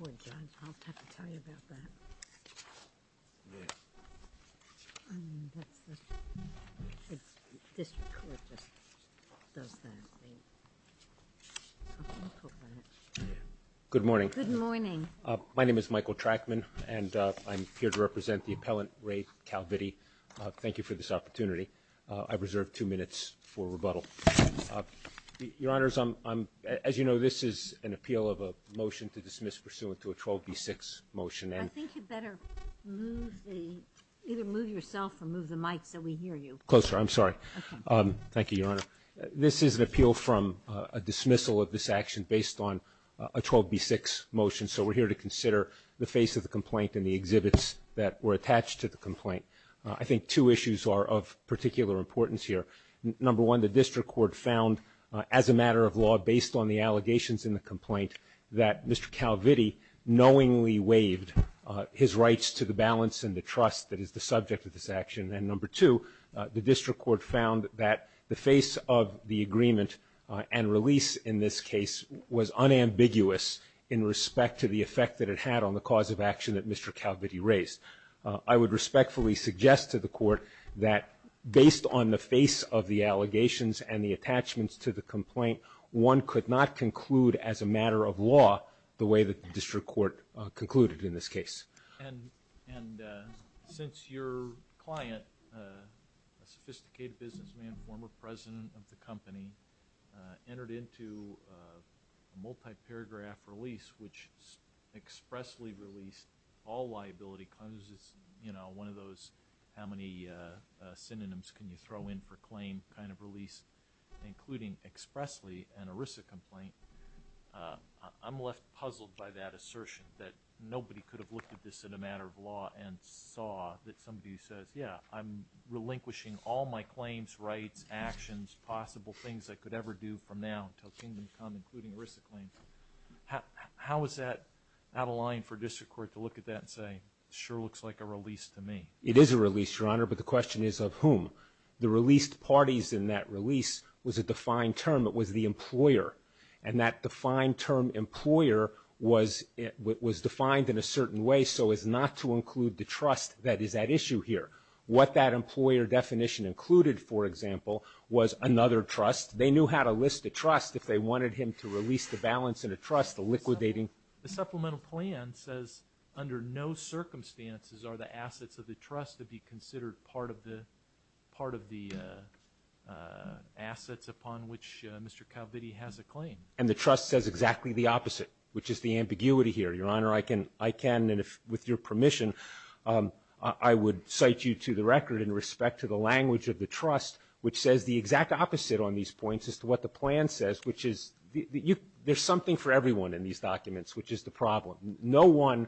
Anthony&Sylvan v. Anthony&Sylvan Good morning. Good morning. My name is Michael Trackman, and I'm here to represent the appellant Ray Calvitti. Thank you for this opportunity. I reserve two minutes for rebuttal. Your Honors, as you know, this is an appeal of a motion to dismiss pursuant to a 12B6 motion. I think you'd better move the, either move yourself or move the mic so we hear you. Closer, I'm sorry. Thank you, Your Honor. This is an appeal from a dismissal of this action based on a 12B6 motion. So we're here to consider the face of the complaint and the exhibits that were attached to the complaint. I think two issues are of particular importance here. Number one, the district court found as a matter of law based on the allegations in the complaint that Mr. Calvitti knowingly waived his rights to the balance and the trust that is the subject of this action. And number two, the district court found that the face of the agreement and release in this case was unambiguous in respect to the effect that it had on the cause of action that Mr. Calvitti raised. I would respectfully suggest to the court that based on the face of the allegations and the attachments to the complaint, one could not conclude as a matter of law the way that the district court concluded in this case. And since your client, a sophisticated businessman, former president of the company, entered into a multi-paragraph release, which expressly released all liability claims. You know, one of those how many synonyms can you throw in for claim kind of release, including expressly an ERISA complaint, I'm left puzzled by that assertion that nobody could have looked at this in a matter of law and saw that somebody says, yeah, I'm relinquishing all my claims, rights, actions, possible things I could ever do from now until kingdom come, including ERISA claims. How is that out of line for district court to look at that and say, sure looks like a release to me? It is a release, your honor, but the question is of whom? The released parties in that release was a defined term, it was the employer. And that defined term employer was defined in a certain way so as not to include the trust that is at issue here. What that employer definition included, for example, was another trust. They knew how to list a trust if they wanted him to release the balance in a trust liquidating. The supplemental plan says under no circumstances are the assets of the trust to be considered part of the assets upon which Mr. Calvitti has a claim. And the trust says exactly the opposite, which is the ambiguity here. Your honor, I can, with your permission, I would cite you to the record in respect to the language of the trust, which says the exact opposite on these points as to what the plan says, which is there's something for everyone in these documents, which is the problem. No one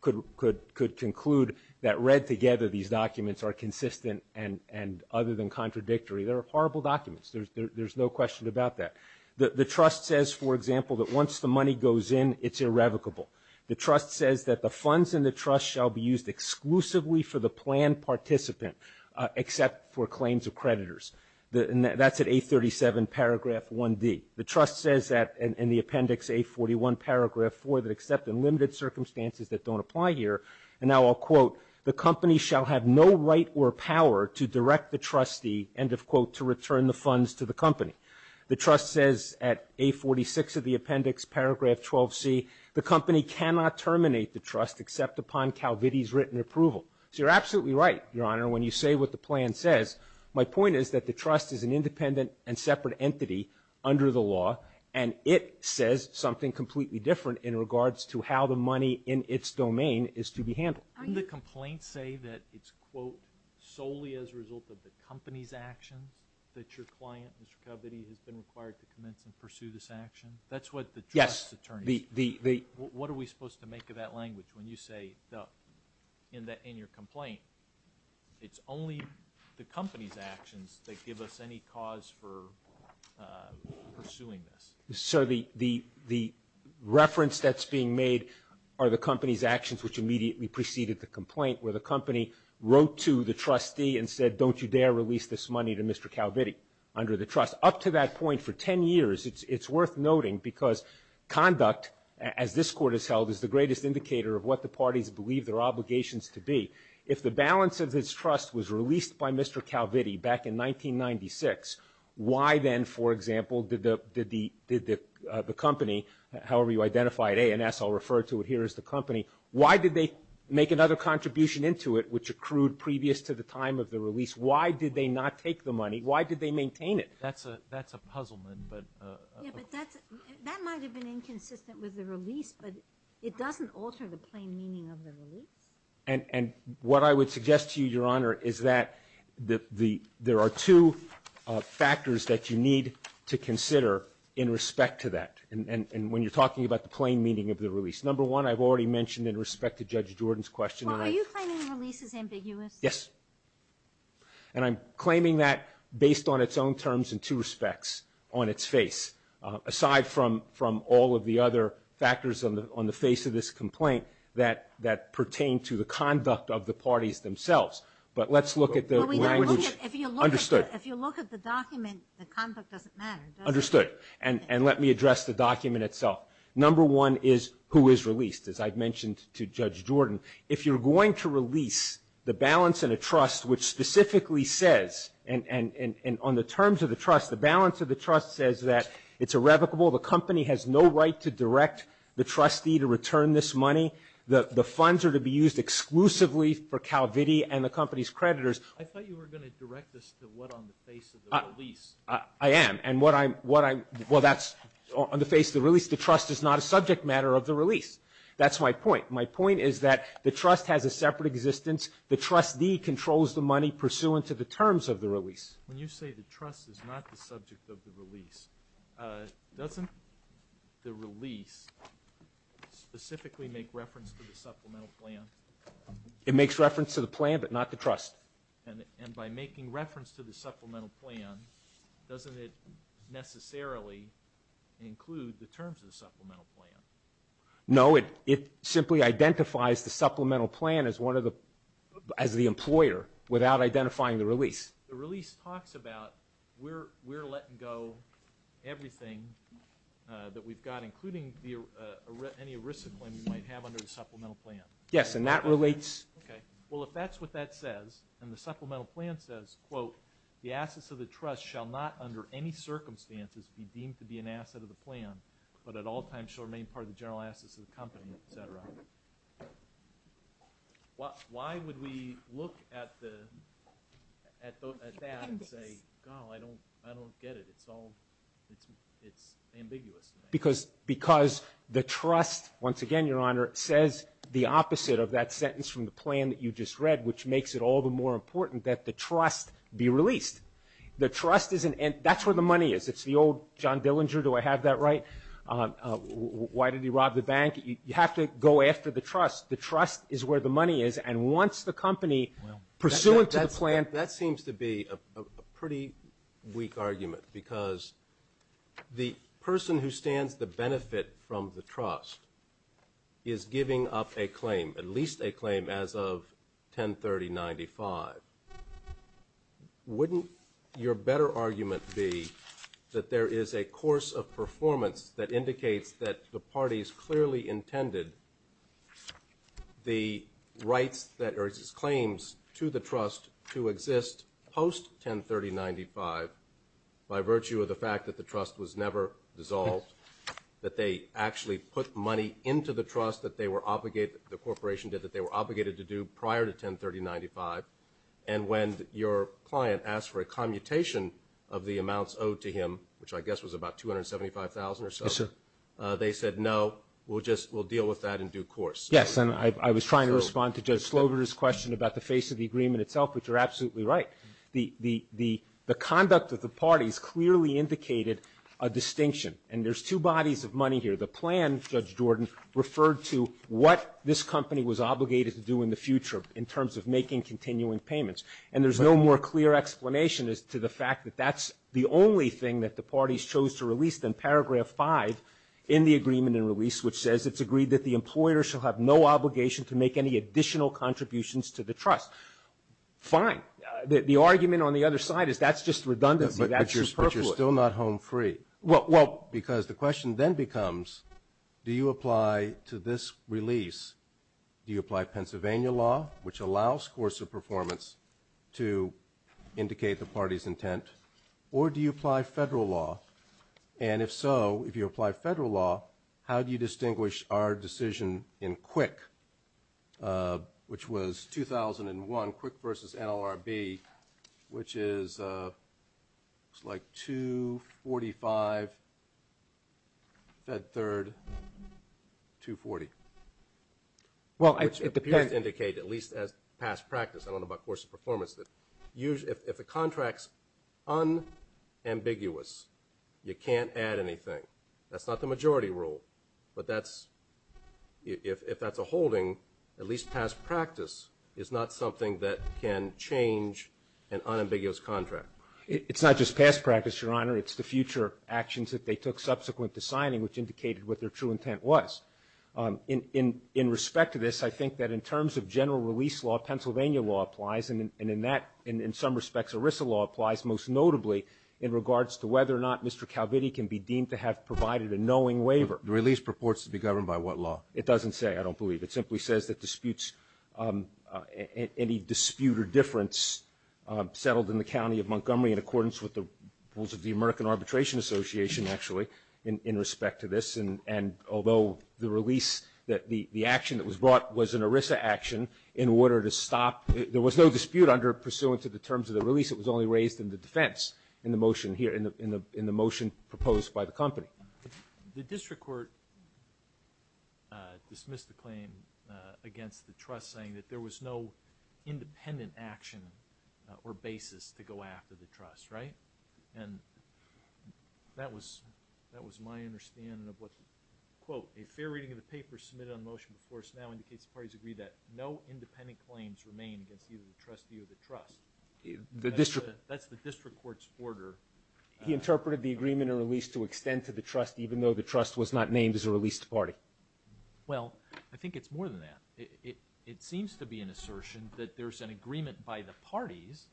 could conclude that read together these documents are consistent and other than contradictory. They're horrible documents. There's no question about that. The trust says, for example, that once the money goes in, it's irrevocable. The trust says that the funds in the trust shall be used exclusively for the plan participant except for claims of creditors. That's at 837 paragraph 1D. The trust says that in the appendix 841 paragraph 4 that except in limited circumstances that don't apply here, and now I'll quote, the company shall have no right or power to direct the trustee, end of quote, to return the funds to the company. The trust says at 846 of the appendix paragraph 12C, the company cannot terminate the trust except upon Calvitti's written approval. So you're absolutely right, your honor, when you say what the plan says. My point is that the trust is an independent and separate entity under the law. And it says something completely different in regards to how the money in its domain is to be handled. Didn't the complaint say that it's, quote, solely as a result of the company's actions that your client, Mr. Calvitti, has been required to commence and pursue this action? That's what the trust attorney said. What are we supposed to make of that language when you say in your complaint, it's only the company's actions that give us any cause for pursuing this? Sir, the reference that's being made are the company's actions, which immediately preceded the complaint, where the company wrote to the trustee and said, don't you dare release this money to Mr. Calvitti under the trust. Up to that point, for 10 years, it's worth noting, because conduct, as this court has held, is the greatest indicator of what the parties believe their obligations to be. If the balance of this trust was released by Mr. Calvitti back in 1996, why then, for example, did the company, however you identify it, A&S, I'll refer to it here as the company, why did they make another contribution into it, which accrued previous to the time of the release? Why did they not take the money? Why did they maintain it? That's a puzzlement. Yeah, but that might have been inconsistent with the release, but it doesn't alter the plain meaning of the release. And what I would suggest to you, Your Honor, is that there are two factors that you need to consider in respect to that, and when you're talking about the plain meaning of the release. Number one, I've already mentioned in respect to Judge Jordan's question... Well, are you claiming the release is ambiguous? Yes. And I'm claiming that based on its own terms and two respects on its face, aside from all of the other factors on the face of this complaint that pertain to the conduct of the parties themselves. But let's look at the language... Well, if you look at the document, the conduct doesn't matter, does it? Understood, and let me address the document itself. Number one is who is released, as I've mentioned to Judge Jordan. If you're going to release the balance in a trust which specifically says, and on the terms of the trust, the balance of the trust says that it's irrevocable, the company has no right to direct the trustee to return this money, the funds are to be used exclusively for CalVity and the company's creditors... I thought you were going to direct this to what on the face of the release. I am, and what I'm... Well, that's on the face of the release. The trust is not a subject matter of the release. That's my point. My point is that the trust has a separate existence. The trustee controls the money pursuant to the terms of the release. When you say the trust is not the subject of the release, doesn't the release specifically make reference to the supplemental plan? It makes reference to the plan, but not the trust. And by making reference to the supplemental plan, doesn't it necessarily include the terms of the supplemental plan? No, it simply identifies the supplemental plan as one of the... as the employer, without identifying the release. The release talks about we're letting go everything that we've got, including any risk of claim we might have under the supplemental plan. Yes, and that relates... Well, if that's what that says, and the supplemental plan says, quote, the assets of the trust shall not under any circumstances be deemed to be an asset of the plan, but at all times shall remain part of the general assets of the company, etc., why would we look at that and say, God, I don't get it. It's all... it's ambiguous to me. Because the trust, once again, Your Honor, says the opposite of that sentence from the plan that you just read, which makes it all the more important that the trust be released. The trust is an... that's where the money is. It's the old John Dillinger, do I have that right? Why did he rob the bank? You have to go after the trust. The trust is where the money is, and once the company, pursuant to the plan... That seems to be a pretty weak argument, because the person who stands to benefit from the trust is giving up a claim, at least a claim as of 1030-95. Wouldn't your better argument be that there is a course of performance that indicates that the parties clearly intended the rights that... or claims to the trust to exist post-1030-95 by virtue of the fact that the trust was never dissolved, that they actually put money into the trust that they were obligated... the corporation did that they were obligated to do prior to 1030-95, and when your client asked for a commutation of the amounts owed to him, which I guess was about $275,000 or so, they said, no, we'll deal with that in due course. Yes, and I was trying to respond to Judge Slover's question about the face of the agreement itself, which you're absolutely right. The conduct of the parties clearly indicated a distinction, and there's two bodies of money here. The plan, Judge Jordan, referred to what this company was obligated to do in the future in terms of making continuing payments, and there's no more clear explanation as to the fact that that's the only thing that the parties chose to release than paragraph 5 in the agreement and release, which says it's agreed that the employer shall have no obligation to make any additional contributions to the trust. Fine. The argument on the other side is that's just redundancy. That's superfluous. But you're still not home free. Well... Because the question then becomes, do you apply to this release, do you apply Pennsylvania law, which allows coarser performance to indicate the party's intent, or do you apply federal law? And if so, if you apply federal law, how do you distinguish our decision in QUIC, which was 2001, QUIC versus NLRB, which is like 245, Fed Third, 240. Well, at the time... Which appears to indicate, at least as past practice, I don't know about coarser performance, that if a contract's unambiguous, you can't add anything. That's not the majority rule. But that's, if that's a holding, at least past practice is not something that can change an unambiguous contract. It's not just past practice, Your Honor. It's the future actions that they took subsequent to signing, which indicated what their true intent was. In respect to this, I think that in terms of general release law, Pennsylvania law applies, and in that, in some respects, ERISA law applies most notably in regards to whether or not Mr. Calvitti can be deemed to have provided a knowing waiver. The release purports to be governed by what law? It doesn't say, I don't believe. It simply says that disputes, any dispute or difference settled in the county of Montgomery in accordance with the rules of the American Arbitration Association, actually, in respect to this. And although the release, the action that was brought was an ERISA action in order to stop, there was no dispute under pursuant to the terms of the release. It was only raised in the defense in the motion here, in the motion proposed by the company. But the district court dismissed the claim against the trust, saying that there was no independent action or basis to go after the trust, right? And that was my understanding of what, quote, a fair reading of the paper submitted on motion before us now indicates the parties agree that no independent claims remain against either the trustee or the trust. That's the district court's order. He interpreted the agreement and release to extend to the trust even though the trust was not named as a released party. Well, I think it's more than that. It seems to be an assertion that there's an agreement by the parties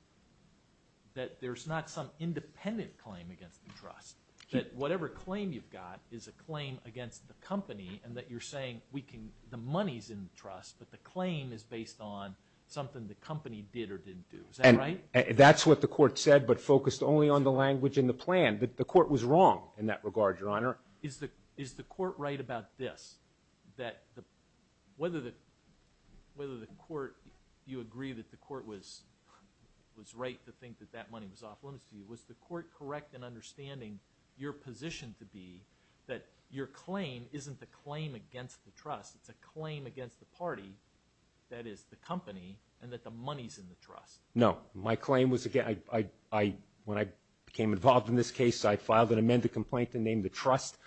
that there's not some independent claim against the trust. That whatever claim you've got is a claim against the company and that you're saying we can, the money's in the trust but the claim is based on something the company did or didn't do. Is that right? That's what the court said but focused only on the language and the plan. The court was wrong in that regard, Your Honor. Is the court right about this, that whether the court, you agree that the court was right to think that that money was off limits to you, was the court correct in understanding your position to be that your claim isn't the claim against the trust, it's a claim against the party that is the company and that the money's in the trust? No. My claim was, again, when I became involved in this case, I filed an amended complaint to name the trust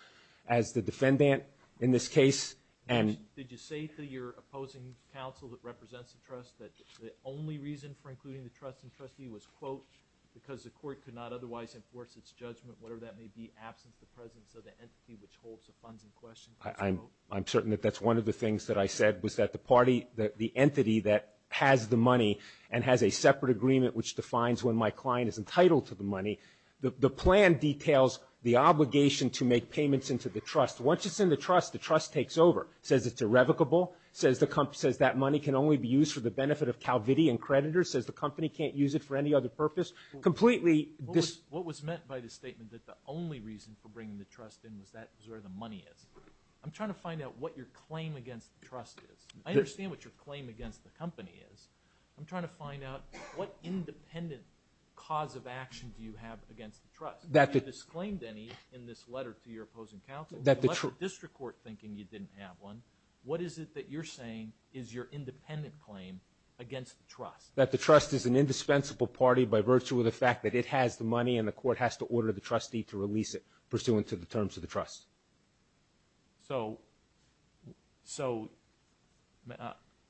as the defendant in this case. Did you say to your opposing counsel that represents the trust that the only reason for including the trust in trustee was, quote, because the court could not otherwise enforce its judgment, whatever that may be, absent the presence of the entity which holds the funds in question? I'm certain that that's one of the things that I said, was that the entity that has the money and has a separate agreement which defines when my client is entitled to the money, the plan details the obligation to make payments into the trust. Once it's in the trust, the trust takes over. It says it's irrevocable. It says that money can only be used for the benefit of CalVity and creditors. It says the company can't use it for any other purpose. What was meant by the statement that the only reason for bringing the trust in was where the money is? I'm trying to find out what your claim against the trust is. I understand what your claim against the company is. I'm trying to find out what independent cause of action do you have against the trust? Have you disclaimed any in this letter to your opposing counsel? The District Court thinking you didn't have one, what is it that you're saying is your independent claim against the trust? That the trust is an indispensable party by virtue of the fact that it has the money and the court has to order the trustee to release it pursuant to the terms of the trust? So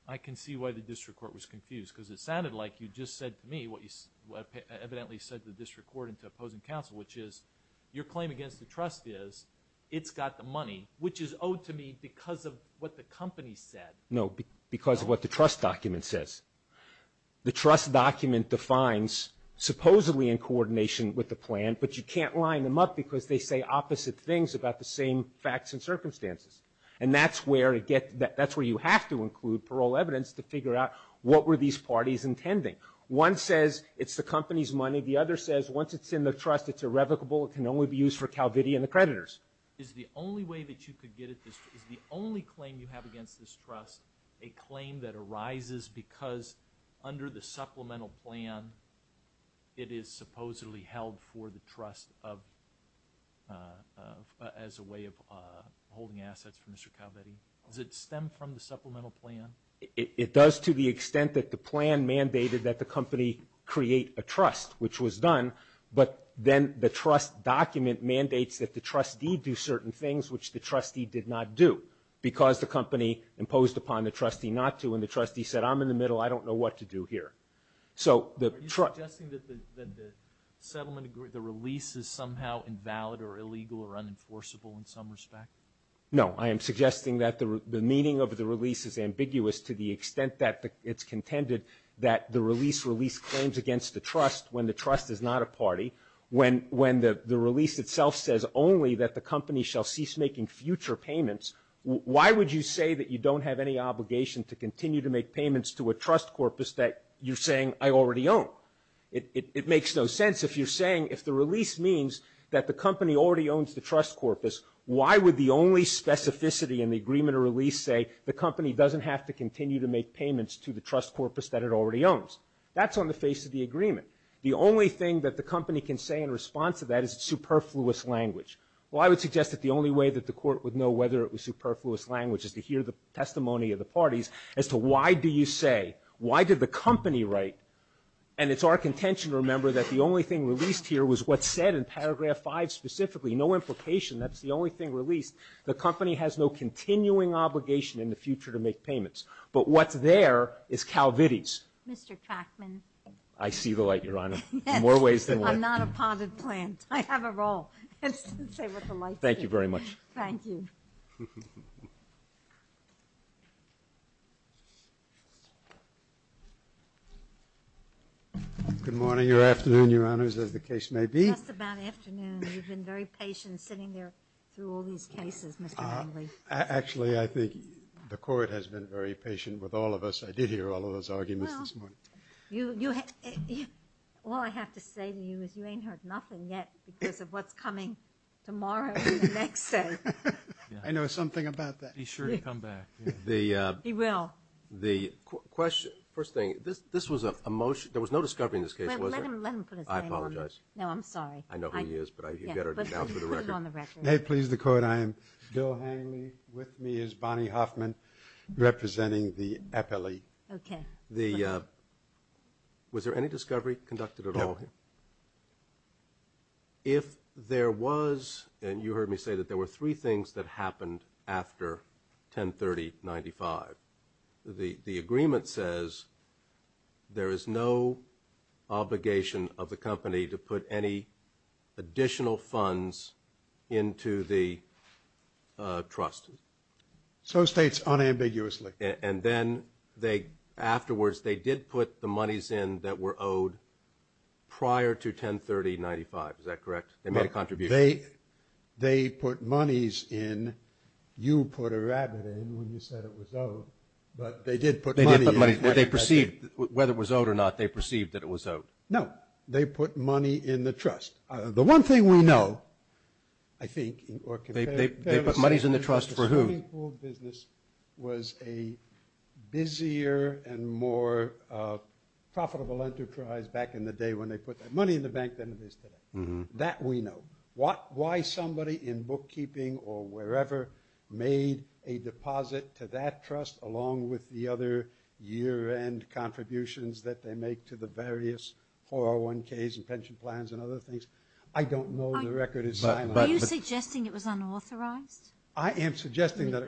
I can see why the District Court was confused because it sounded like you just said to me what you evidently said to the District Court and to opposing counsel, which is your claim against the trust is it's got the money, which is owed to me because of what the company said. No, because of what the trust document says. The trust document defines supposedly in coordination with the plan, but you can't line them up because they say opposite things about the same facts and circumstances. And that's where you have to include parole evidence to figure out what were these parties intending. One says it's the company's money. The other says once it's in the trust, it's irrevocable. It can only be used for Calvity and the creditors. Under the supplemental plan, it is supposedly held for the trust as a way of holding assets for Mr. Calvity. Does it stem from the supplemental plan? It does to the extent that the plan mandated that the company create a trust, which was done, but then the trust document mandates that the trustee do certain things, which the trustee did not do because the company imposed upon the trustee not to when the trustee said, I'm in the middle. I don't know what to do here. Are you suggesting that the release is somehow invalid or illegal or unenforceable in some respect? No. I am suggesting that the meaning of the release is ambiguous to the extent that it's contended that the release claims against the trust when the trust is not a party. When the release itself says only that the company shall cease making future payments, why would you say that you don't have any obligation to continue to make payments to a trust corpus that you're saying I already own? It makes no sense if you're saying if the release means that the company already owns the trust corpus, why would the only specificity in the agreement or release say the company doesn't have to continue to make payments to the trust corpus that it already owns? That's on the face of the agreement. The only thing that the company can say in response to that is superfluous language. Well, I would suggest that the only way that the court would know whether it was superfluous language is to hear the testimony of the parties as to why do you say, why did the company write, and it's our contention to remember that the only thing released here was what's said in paragraph 5 specifically. No implication. That's the only thing released. The company has no continuing obligation in the future to make payments. But what's there is Calvities. Mr. Trachman. I see the light, Your Honor, in more ways than one. I'm not a potted plant. I have a role. Thank you very much. Thank you. Good morning or afternoon, Your Honors, as the case may be. Just about afternoon. You've been very patient sitting there through all these cases, Mr. Langley. Actually, I think the court has been very patient with all of us. I did hear all of those arguments this morning. All I have to say to you is you ain't heard nothing yet because of what's coming tomorrow and the next day. I know something about that. Be sure to come back. He will. The question, first thing, this was a motion. There was no discovery in this case, was there? Let him put his name on it. I apologize. No, I'm sorry. I know who he is, but you better account for the record. Put it on the record. May it please the court, I am Bill Hangley. With me is Bonnie Hoffman, representing the epily. Okay. Was there any discovery conducted at all here? No. If there was, and you heard me say that there were three things that happened after 1030-95, the agreement says there is no obligation of the company to put any additional funds into the trust. So states unambiguously. And then they afterwards, they did put the monies in that were owed prior to 1030-95. Is that correct? They made a contribution. They put monies in. You put a rabbit in when you said it was owed, but they did put money in. They did put money in. But they perceived, whether it was owed or not, they perceived that it was owed. No. They put money in the trust. The one thing we know, I think, or can fairly say. They put monies in the trust for who? The bank pooled business was a busier and more profitable enterprise back in the day when they put their money in the bank than it is today. That we know. Why somebody in bookkeeping or wherever made a deposit to that trust, along with the other year-end contributions that they make to the various 401Ks and pension plans and other things, I don't know. The record is silent. Are you suggesting it was unauthorized? I am suggesting that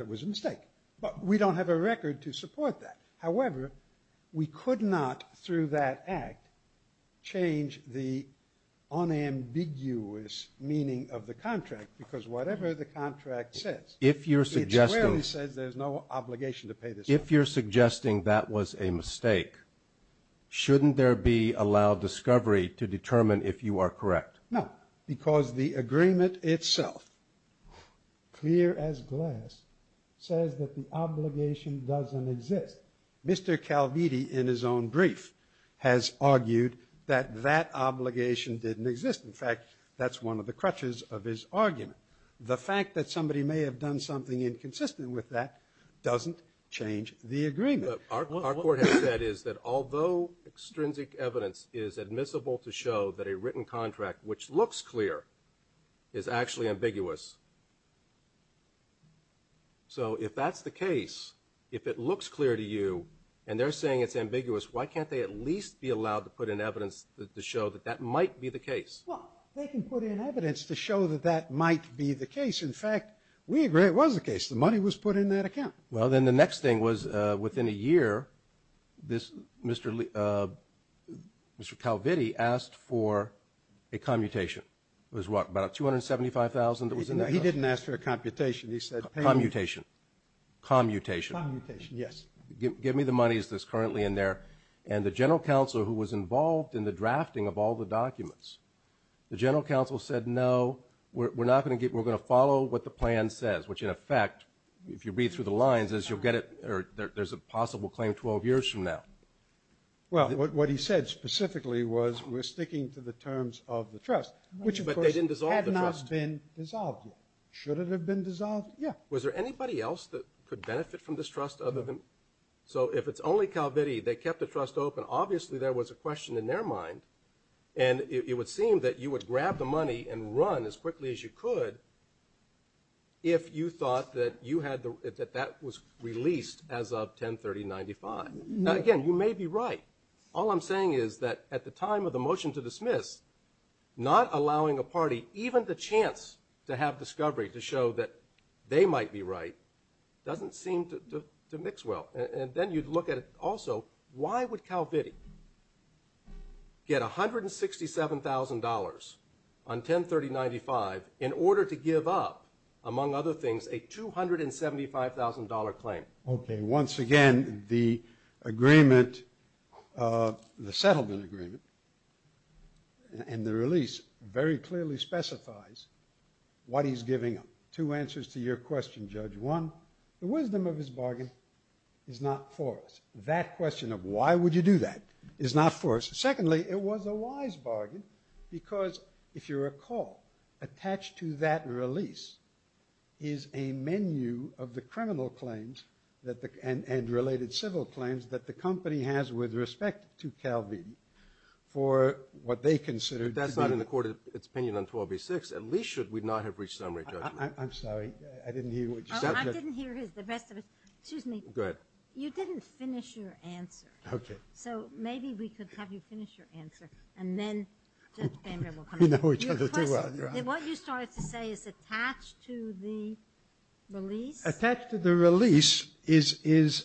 it was a mistake. But we don't have a record to support that. However, we could not, through that act, change the unambiguous meaning of the contract because whatever the contract says, it clearly says there's no obligation to pay this money. If you're suggesting that was a mistake, shouldn't there be allowed discovery to determine if you are correct? No, because the agreement itself, clear as glass, says that the obligation doesn't exist. Mr. Calviti, in his own brief, has argued that that obligation didn't exist. In fact, that's one of the crutches of his argument. The fact that somebody may have done something inconsistent with that doesn't change the agreement. What our court has said is that although extrinsic evidence is admissible to show that a written contract, which looks clear, is actually ambiguous, so if that's the case, if it looks clear to you and they're saying it's ambiguous, why can't they at least be allowed to put in evidence to show that that might be the case? Well, they can put in evidence to show that that might be the case. In fact, we agree it was the case. The money was put in that account. Well, then the next thing was within a year, Mr. Calviti asked for a commutation. It was what, about $275,000? He didn't ask for a computation. He said payment. Commutation. Commutation. Commutation, yes. Give me the money that's currently in there. And the general counsel who was involved in the drafting of all the documents, the general counsel said, no, we're going to follow what the plan says, which in effect, if you read through the lines, is you'll get it or there's a possible claim 12 years from now. Well, what he said specifically was we're sticking to the terms of the trust, which of course had not been dissolved yet. Should it have been dissolved? Yeah. Was there anybody else that could benefit from this trust other than? So if it's only Calviti, they kept the trust open, obviously there was a question in their mind, and it would seem that you would grab the money and run as quickly as you could if you thought that that was released as of 10-30-95. Now, again, you may be right. All I'm saying is that at the time of the motion to dismiss, not allowing a party even the chance to have discovery to show that they might be right doesn't seem to mix well. And then you'd look at also why would Calviti get $167,000 on 10-30-95 in order to give up, among other things, a $275,000 claim? Okay. Once again, the settlement agreement and the release very clearly specifies what he's giving them. Two answers to your question, Judge. One, the wisdom of his bargain is not for us. That question of why would you do that is not for us. Secondly, it was a wise bargain because, if you recall, attached to that release is a menu of the criminal claims and related civil claims that the company has with respect to Calviti for what they consider to be the – But that's not in the court of its opinion on 12-A-6. At least should we not have reached summary judgment. I'm sorry. I didn't hear what you said. I didn't hear the rest of it. Excuse me. Go ahead. You didn't finish your answer. Okay. So maybe we could have you finish your answer, and then Judge Bamberg will come in. We know each other too well. Your Honor. What you started to say is attached to the release. Attached to the release is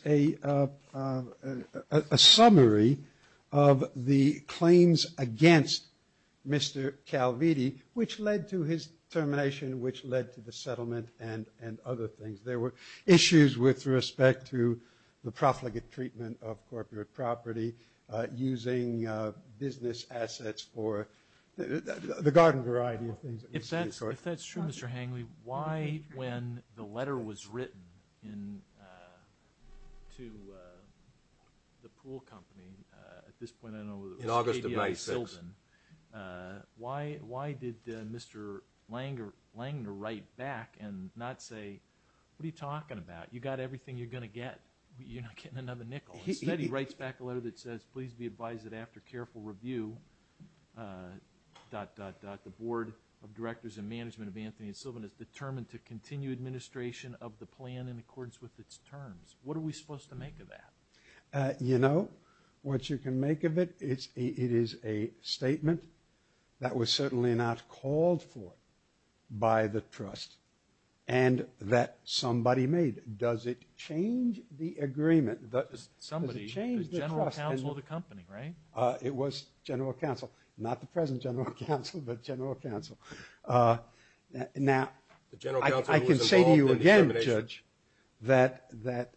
a summary of the claims against Mr. Calviti, which led to his termination, which led to the settlement, and other things. There were issues with respect to the profligate treatment of corporate property, using business assets for the garden variety of things. If that's true, Mr. Hangley, why, when the letter was written to the pool company, at this point I know it was KDI Sylvan, why did Mr. Langner write back and not say, what are you talking about? You got everything you're going to get. You're not getting another nickel. Instead, he writes back a letter that says, please be advised that after careful review, dot, dot, dot, the Board of Directors and Management of Anthony and Sylvan is determined to continue administration of the plan in accordance with its terms. What are we supposed to make of that? You know, what you can make of it, it is a statement that was certainly not called for by the trust and that somebody made. Does it change the agreement? Somebody, the general counsel of the company, right? It was general counsel. Not the present general counsel, but general counsel. Now, I can say to you again, Judge, that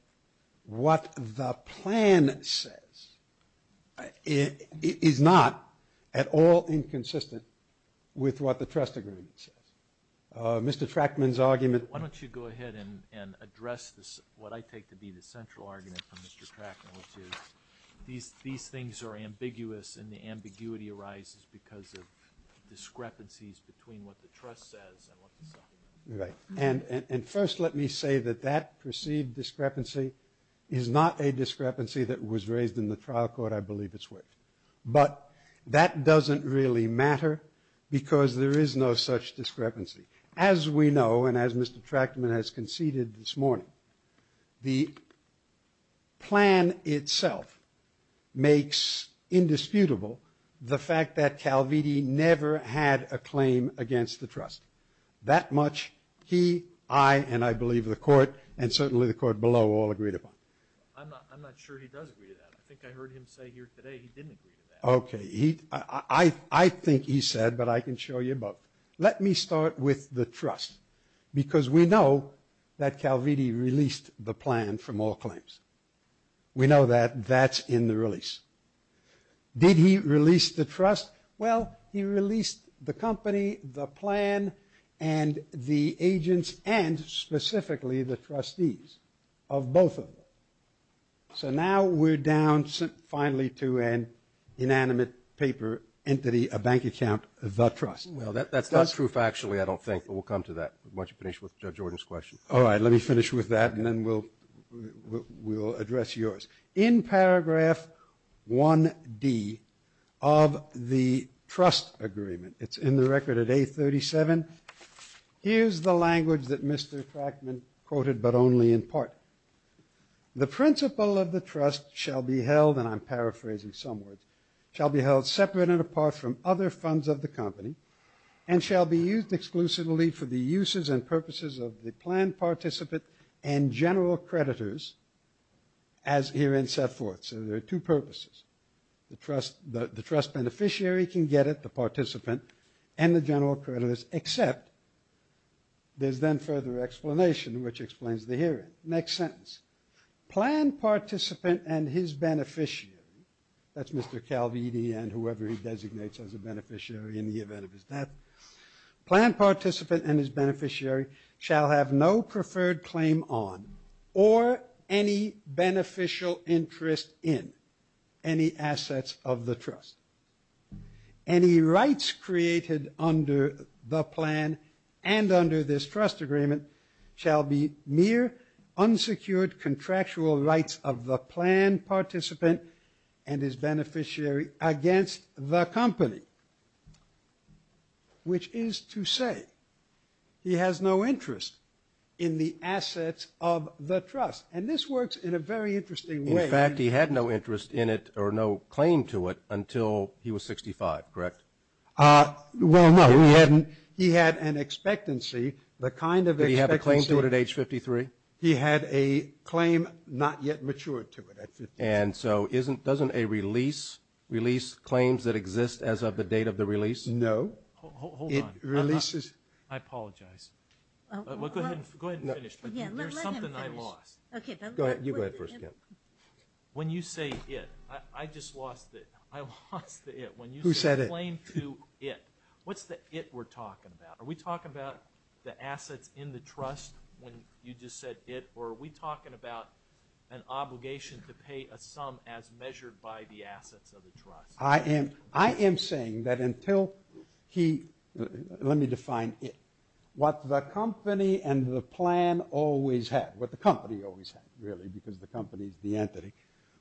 what the plan says is not at all inconsistent with what the trust agreement says. Mr. Trachman's argument. Why don't you go ahead and address what I take to be the central argument from Mr. Trachman, which is these things are ambiguous and the ambiguity arises because of discrepancies between what the trust says and what the settlement says. Right. And first let me say that that perceived discrepancy is not a discrepancy that was raised in the trial court, I believe it's worth. But that doesn't really matter because there is no such discrepancy. As we know and as Mr. Trachman has conceded this morning, the plan itself makes indisputable the fact that Calviti never had a claim against the trust. That much he, I, and I believe the court and certainly the court below all agreed upon. I'm not sure he does agree to that. I think I heard him say here today he didn't agree to that. Okay. He, I think he said, but I can show you both. Let me start with the trust because we know that Calviti released the plan from all claims. We know that that's in the release. Did he release the trust? Well, he released the company, the plan, and the agents and specifically the trustees of both of them. So now we're down finally to an inanimate paper entity, a bank account, the trust. Well, that's not true factually, I don't think, but we'll come to that. Why don't you finish with Judge Jordan's question? All right. Let me finish with that and then we'll address yours. In paragraph 1D of the trust agreement, it's in the record at A37, here's the language that Mr. Crackman quoted but only in part. The principle of the trust shall be held, and I'm paraphrasing some words, shall be held separate and apart from other funds of the company and shall be used exclusively for the uses and purposes of the planned participant and general creditors as herein set forth. So there are two purposes. The trust beneficiary can get it, the participant, and the general creditors, except there's then further explanation which explains the hearing. Next sentence. Planned participant and his beneficiary, that's Mr. Calvini and whoever he designates as a beneficiary in the event of his death. Planned participant and his beneficiary shall have no preferred claim on or any beneficial interest in any assets of the trust. Any rights created under the plan and under this trust agreement shall be mere unsecured contractual rights of the planned participant which is to say he has no interest in the assets of the trust. And this works in a very interesting way. In fact, he had no interest in it or no claim to it until he was 65, correct? Well, no. He had an expectancy, the kind of expectancy. Did he have a claim to it at age 53? He had a claim not yet matured to it at 53. And so doesn't a release release claims that exist as of the date of the release? No. Hold on. It releases. I apologize. Go ahead and finish. There's something I lost. Okay. Go ahead. You go ahead first, Ken. When you say it, I just lost it. I lost the it. Who said it? When you say claim to it, what's the it we're talking about? Are we talking about the assets in the trust when you just said it or are we talking about an obligation to pay a sum as measured by the assets of the trust? I am saying that until he, let me define it. What the company and the plan always had, what the company always had, really, because the company is the entity.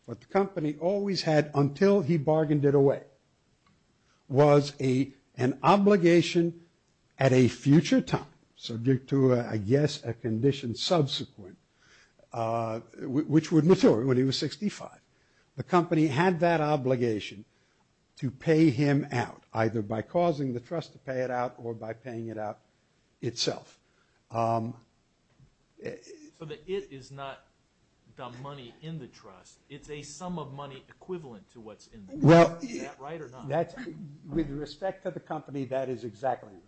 What the company always had until he bargained it away was an obligation at a future time, subject to, I guess, a condition subsequent, which would mature when he was 65. The company had that obligation to pay him out, either by causing the trust to pay it out or by paying it out itself. So the it is not the money in the trust. It's a sum of money equivalent to what's in the trust. Is that right or not? With respect to the company, that is exactly right.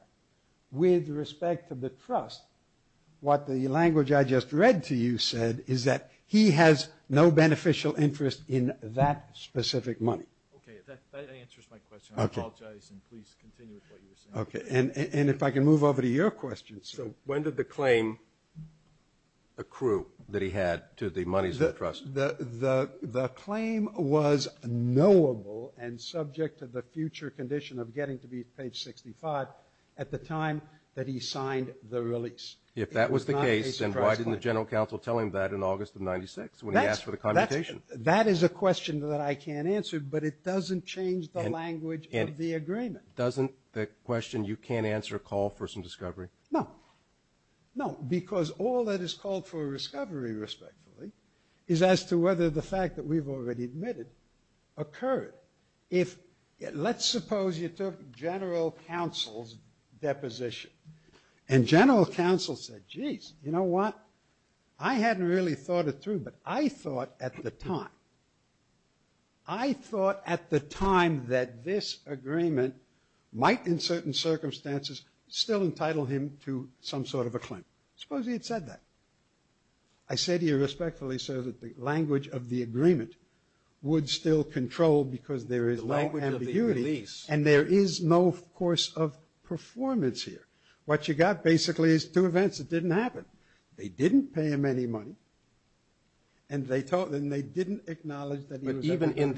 With respect to the trust, what the language I just read to you said is that he has no beneficial interest in that specific money. Okay. That answers my question. I apologize and please continue with what you're saying. Okay. And if I can move over to your question. So when did the claim accrue that he had to the monies in the trust? The claim was knowable and subject to the future condition of getting to be, page 65, at the time that he signed the release. If that was the case, then why didn't the General Counsel tell him that in August of 1996 when he asked for the commutation? That is a question that I can't answer, but it doesn't change the language of the agreement. Doesn't the question, you can't answer a call for some discovery? No. No, because all that is called for discovery, respectfully, is as to whether the fact that we've already admitted occurred. Let's suppose you took General Counsel's deposition and General Counsel said, geez, you know what? I hadn't really thought it through, but I thought at the time, I thought at the time that this agreement might, in certain circumstances, still entitle him to some sort of a claim. Suppose he had said that. I said here respectfully, sir, that the language of the agreement would still control because there is no ambiguity. The language of the release. And there is no course of performance here. What you got basically is two events that didn't happen. They didn't pay him any money and they didn't acknowledge that he was entitled to the money. But even in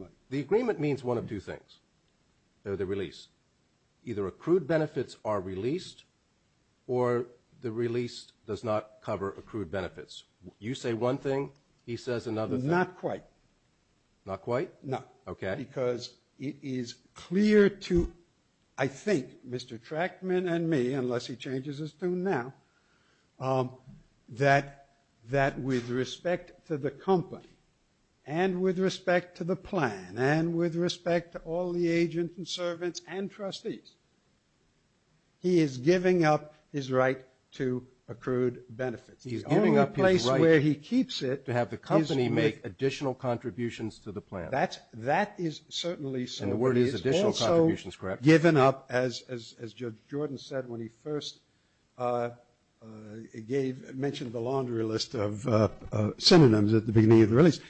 the, the agreement means one of two things, the release. Either accrued benefits are released or the release does not cover accrued benefits. You say one thing, he says another thing. Not quite. Not quite? No. Okay. Because it is clear to, I think, Mr. Trackman and me, unless he changes his tune now, that with respect to the company and with respect to the plan and with respect to all the agents and servants and trustees, he is giving up his right to accrued benefits. He's giving up his right to have the company make additional contributions to the plan. That is certainly so. And the word is additional contributions, correct? He's also given up, as Judge Jordan said when he first gave, mentioned the laundry list of synonyms at the beginning of the release,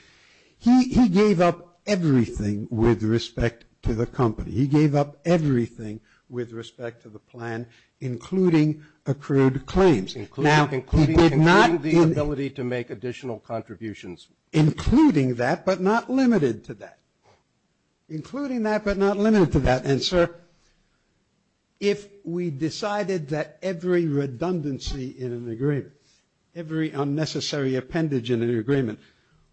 he gave up everything with respect to the company. He gave up everything with respect to the plan, including accrued claims. Including the ability to make additional contributions. Including that, but not limited to that. Including that, but not limited to that. And, sir, if we decided that every redundancy in an agreement, every unnecessary appendage in an agreement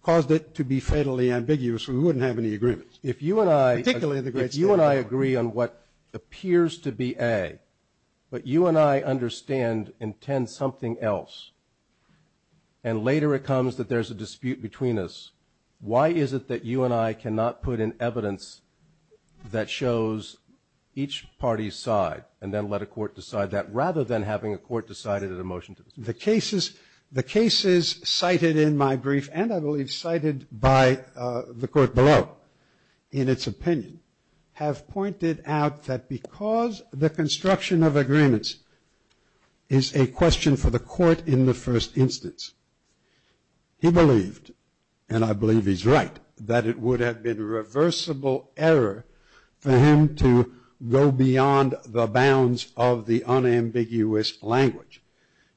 caused it to be fatally ambiguous, we wouldn't have any agreements. If you and I agree on what appears to be A, but you and I understand and intend something else, and later it comes that there's a dispute between us, why is it that you and I cannot put in evidence that shows each party's side and then let a court decide that, rather than having a court decide it at a motion to the Supreme Court? The cases cited in my brief, and I believe cited by the court below in its opinion, have pointed out that because the construction of agreements is a question for the court in the first instance, he believed, and I believe he's right, that it would have been a reversible error for him to go beyond the bounds of the unambiguous language.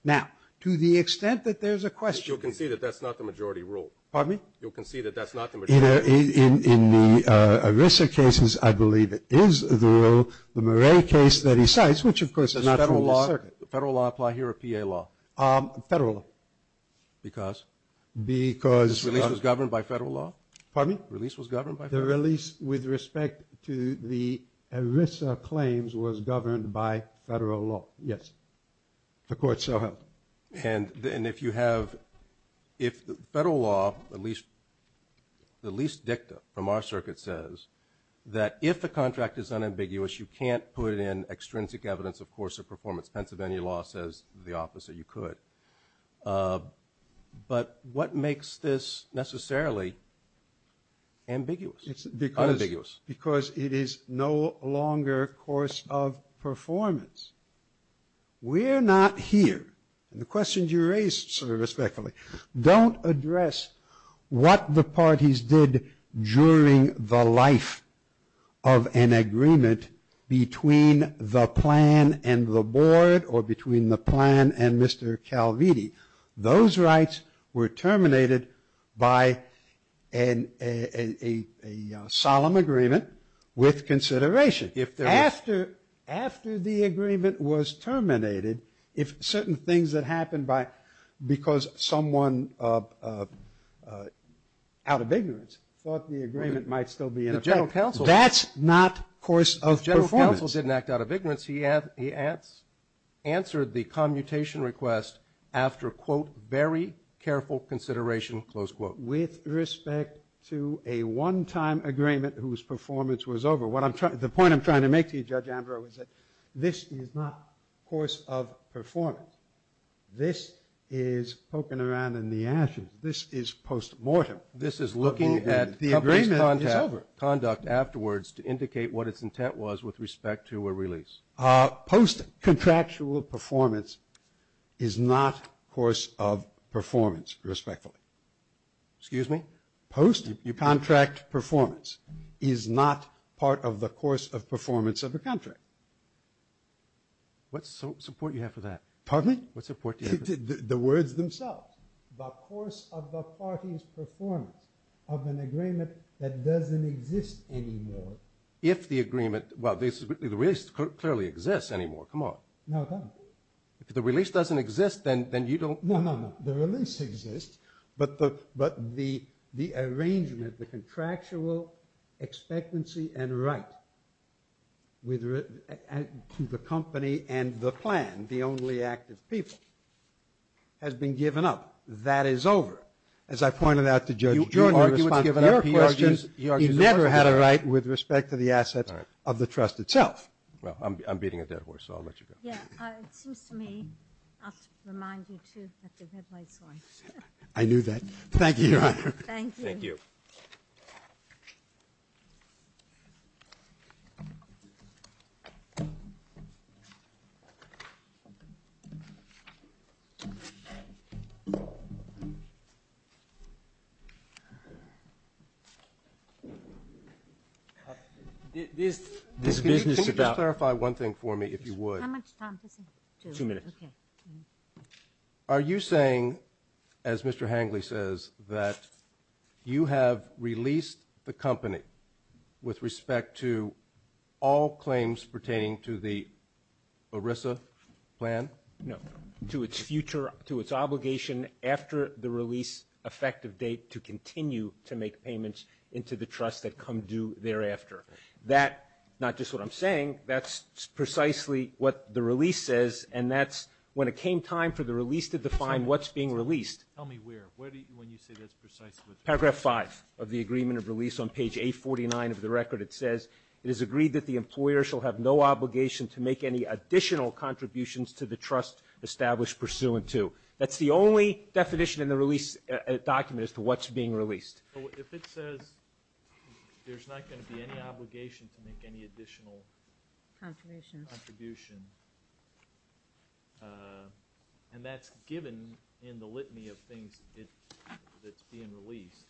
Now, to the extent that there's a question. You'll concede that that's not the majority rule. Pardon me? You'll concede that that's not the majority rule. In the Arisa cases, I believe it is the rule. The Murray case that he cites, which of course is not from the circuit. Does federal law apply here or PA law? Federal law. Because? Because. Release was governed by federal law? Pardon me? Release was governed by federal law? The release with respect to the Arisa claims was governed by federal law. Yes. The court so held. And if you have, if the federal law, at least, the least dicta from our circuit says that if the contract is unambiguous, you can't put in extrinsic evidence of course of performance. Pennsylvania law says the opposite. You could. But what makes this necessarily ambiguous? It's unambiguous. Because it is no longer course of performance. We're not here. And the questions you raised sort of respectfully don't address what the parties did during the life of an agreement between the plan and the board or between the plan and Mr. Calvini. Those rights were terminated by a solemn agreement with consideration. After the agreement was terminated, if certain things that happened because someone out of ignorance thought the agreement might still be in effect, that's not course of performance. Counsel didn't act out of ignorance. He answered the commutation request after, quote, very careful consideration, close quote. With respect to a one-time agreement whose performance was over, the point I'm trying to make to you, Judge Andro, is that this is not course of performance. This is poking around in the ashes. This is post-mortem. This is looking at the agreement's conduct afterwards to indicate what its intent was with respect to a release. Post-contractual performance is not course of performance, respectfully. Excuse me? Post-contract performance is not part of the course of performance of the contract. What support do you have for that? Pardon me? What support do you have for that? The words themselves. The course of the party's performance of an agreement that doesn't exist anymore. If the agreement, well, the release clearly exists anymore. Come on. No, it doesn't. If the release doesn't exist, then you don't. No, no, no. The release exists, but the arrangement, the contractual expectancy and right to the company and the plan, the only act of people, has been given up. That is over. As I pointed out to Judge Joyner in response to your questions, you never had a right with respect to the assets of the trust itself. Well, I'm beating a dead horse, so I'll let you go. Yeah. It seems to me I'll have to remind you, too, that the red light's on. I knew that. Thank you, Your Honor. Thank you. Thank you. Can you just clarify one thing for me, if you would? How much time does he have? Two minutes. Two minutes. Okay. Are you saying, as Mr. Hangley says, that you have released the company with respect to all claims pertaining to the ERISA plan? No. To its future, to its obligation after the release effective date to continue to make payments into the trust that come due thereafter. That, not just what I'm saying, that's precisely what the release says, and that's when it came time for the release to define what's being released. Tell me where, when you say that's precisely. Paragraph 5 of the agreement of release on page 849 of the record. It says, it is agreed that the employer shall have no obligation to make any additional contributions to the trust established pursuant to. That's the only definition in the release document as to what's being released. If it says there's not going to be any obligation to make any additional contribution, and that's given in the litany of things that's being released,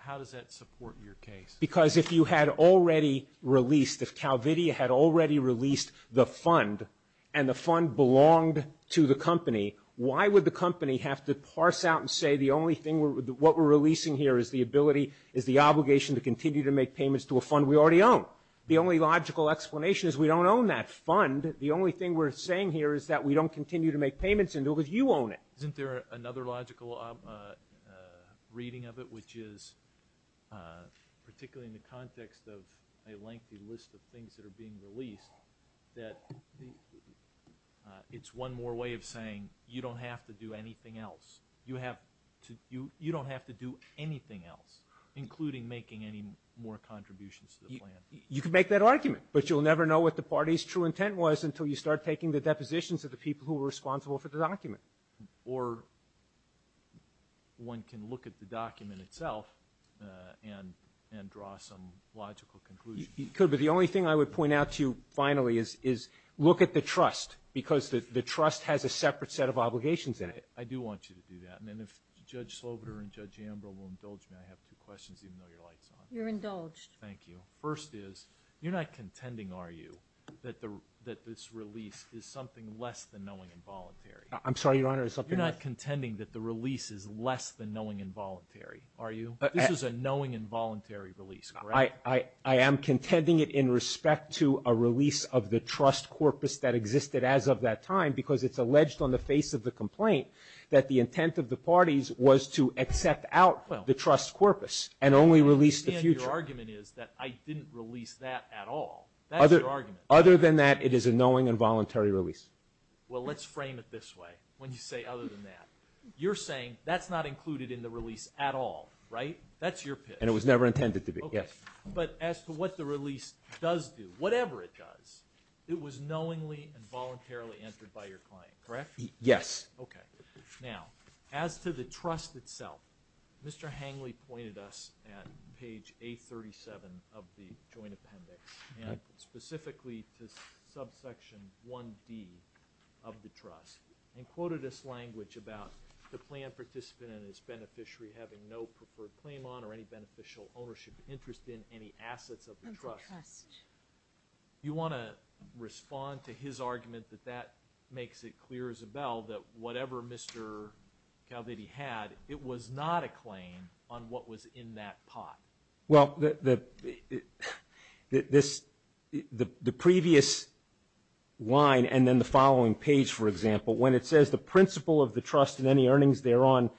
how does that support your case? Because if you had already released, if Calvidia had already released the fund, and the fund belonged to the company, why would the company have to parse out and say the only thing, what we're releasing here is the ability, is the obligation to continue to make payments to a fund we already own? The only logical explanation is we don't own that fund. The only thing we're saying here is that we don't continue to make payments until you own it. Isn't there another logical reading of it, which is particularly in the context of a lengthy list of things that are being released, that it's one more way of saying you don't have to do anything else. You don't have to do anything else, including making any more contributions to the plan. You can make that argument, but you'll never know what the party's true intent was until you start taking the depositions of the people who were responsible for the document. Or one can look at the document itself and draw some logical conclusions. You could, but the only thing I would point out to you finally is look at the trust, because the trust has a separate set of obligations in it. I do want you to do that. And then if Judge Slobodur and Judge Ambrose will indulge me, I have two questions, even though your light's on. You're indulged. Thank you. First is, you're not contending, are you, that this release is something less than knowing involuntary? I'm sorry, Your Honor. You're not contending that the release is less than knowing involuntary, are you? This is a knowing involuntary release, correct? I am contending it in respect to a release of the trust corpus that existed as of that time, because it's alleged on the face of the complaint that the intent of the parties was to accept out the trust corpus and only release the future. Your argument is that I didn't release that at all. That's your argument. Other than that, it is a knowing involuntary release. Well, let's frame it this way when you say other than that. You're saying that's not included in the release at all, right? That's your pitch. And it was never intended to be, yes. But as to what the release does do, whatever it does, it was knowingly and voluntarily entered by your client, correct? Yes. Okay. Now, as to the trust itself, Mr. Hangley pointed us at page 837 of the joint appendix and specifically to subsection 1D of the trust and quoted this language about the plan participant and his beneficiary having no preferred claim on or any beneficial ownership interest in any assets of the trust. Do you want to respond to his argument that that makes it clear, Isabel, that whatever Mr. Caldini had, it was not a claim on what was in that pot? Well, the previous line and then the following page, for example, when it says the principle of the trust and any earnings thereon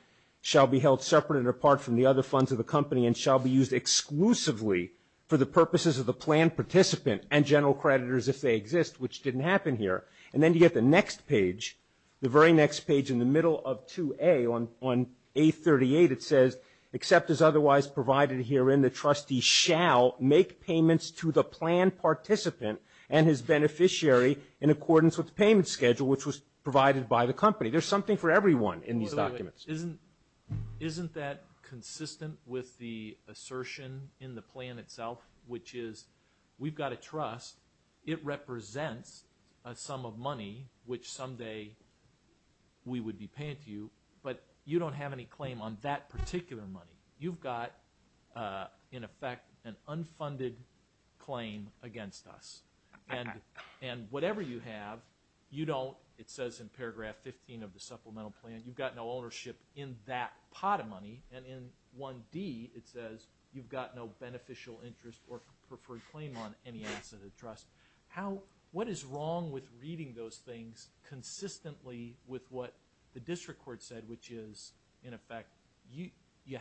shall be held separate and apart from the other funds of the company and shall be used exclusively for the purposes of the plan participant and general creditors if they exist, which didn't happen here. And then you get the next page, the very next page in the middle of 2A on A38, it says except as otherwise provided herein, the trustee shall make payments to the plan participant and his beneficiary in accordance with the payment schedule, which was provided by the company. There's something for everyone in these documents. Isn't that consistent with the assertion in the plan itself, which is we've got a trust. It represents a sum of money, which someday we would be paying to you, but you don't have any claim on that particular money. You've got, in effect, an unfunded claim against us. And whatever you have, you don't, it says in paragraph 15 of the supplemental plan, you've got no ownership in that pot of money, and in 1D it says you've got no beneficial interest or preferred claim on any asset of the trust. What is wrong with reading those things consistently with what the district court said, which is, in effect, you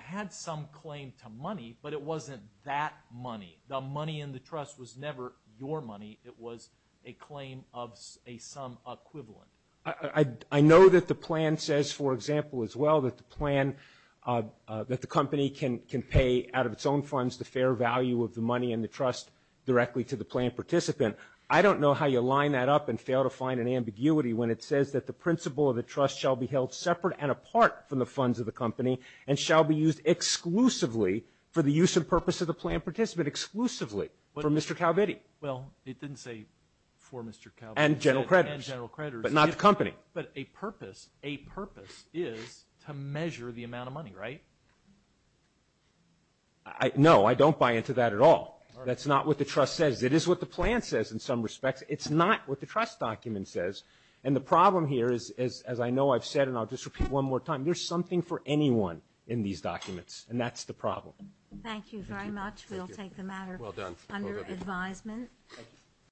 had some claim to money, but it wasn't that money. The money in the trust was never your money. It was a claim of a sum equivalent. I know that the plan says, for example, as well, that the plan, that the company can pay out of its own funds the fair value of the money in the trust directly to the plan participant. I don't know how you line that up and fail to find an ambiguity when it says that the principle of the trust shall be held separate and apart from the funds of the company and shall be used exclusively for the use and purpose of the plan participant, exclusively for Mr. Calvitti. Well, it didn't say for Mr. Calvitti. And general creditors. And general creditors. But not the company. But a purpose, a purpose is to measure the amount of money, right? No, I don't buy into that at all. That's not what the trust says. It is what the plan says in some respects. It's not what the trust document says. And the problem here is, as I know I've said, and I'll just repeat one more time, there's something for anyone in these documents. And that's the problem. Thank you very much. We'll take the matter under advisement.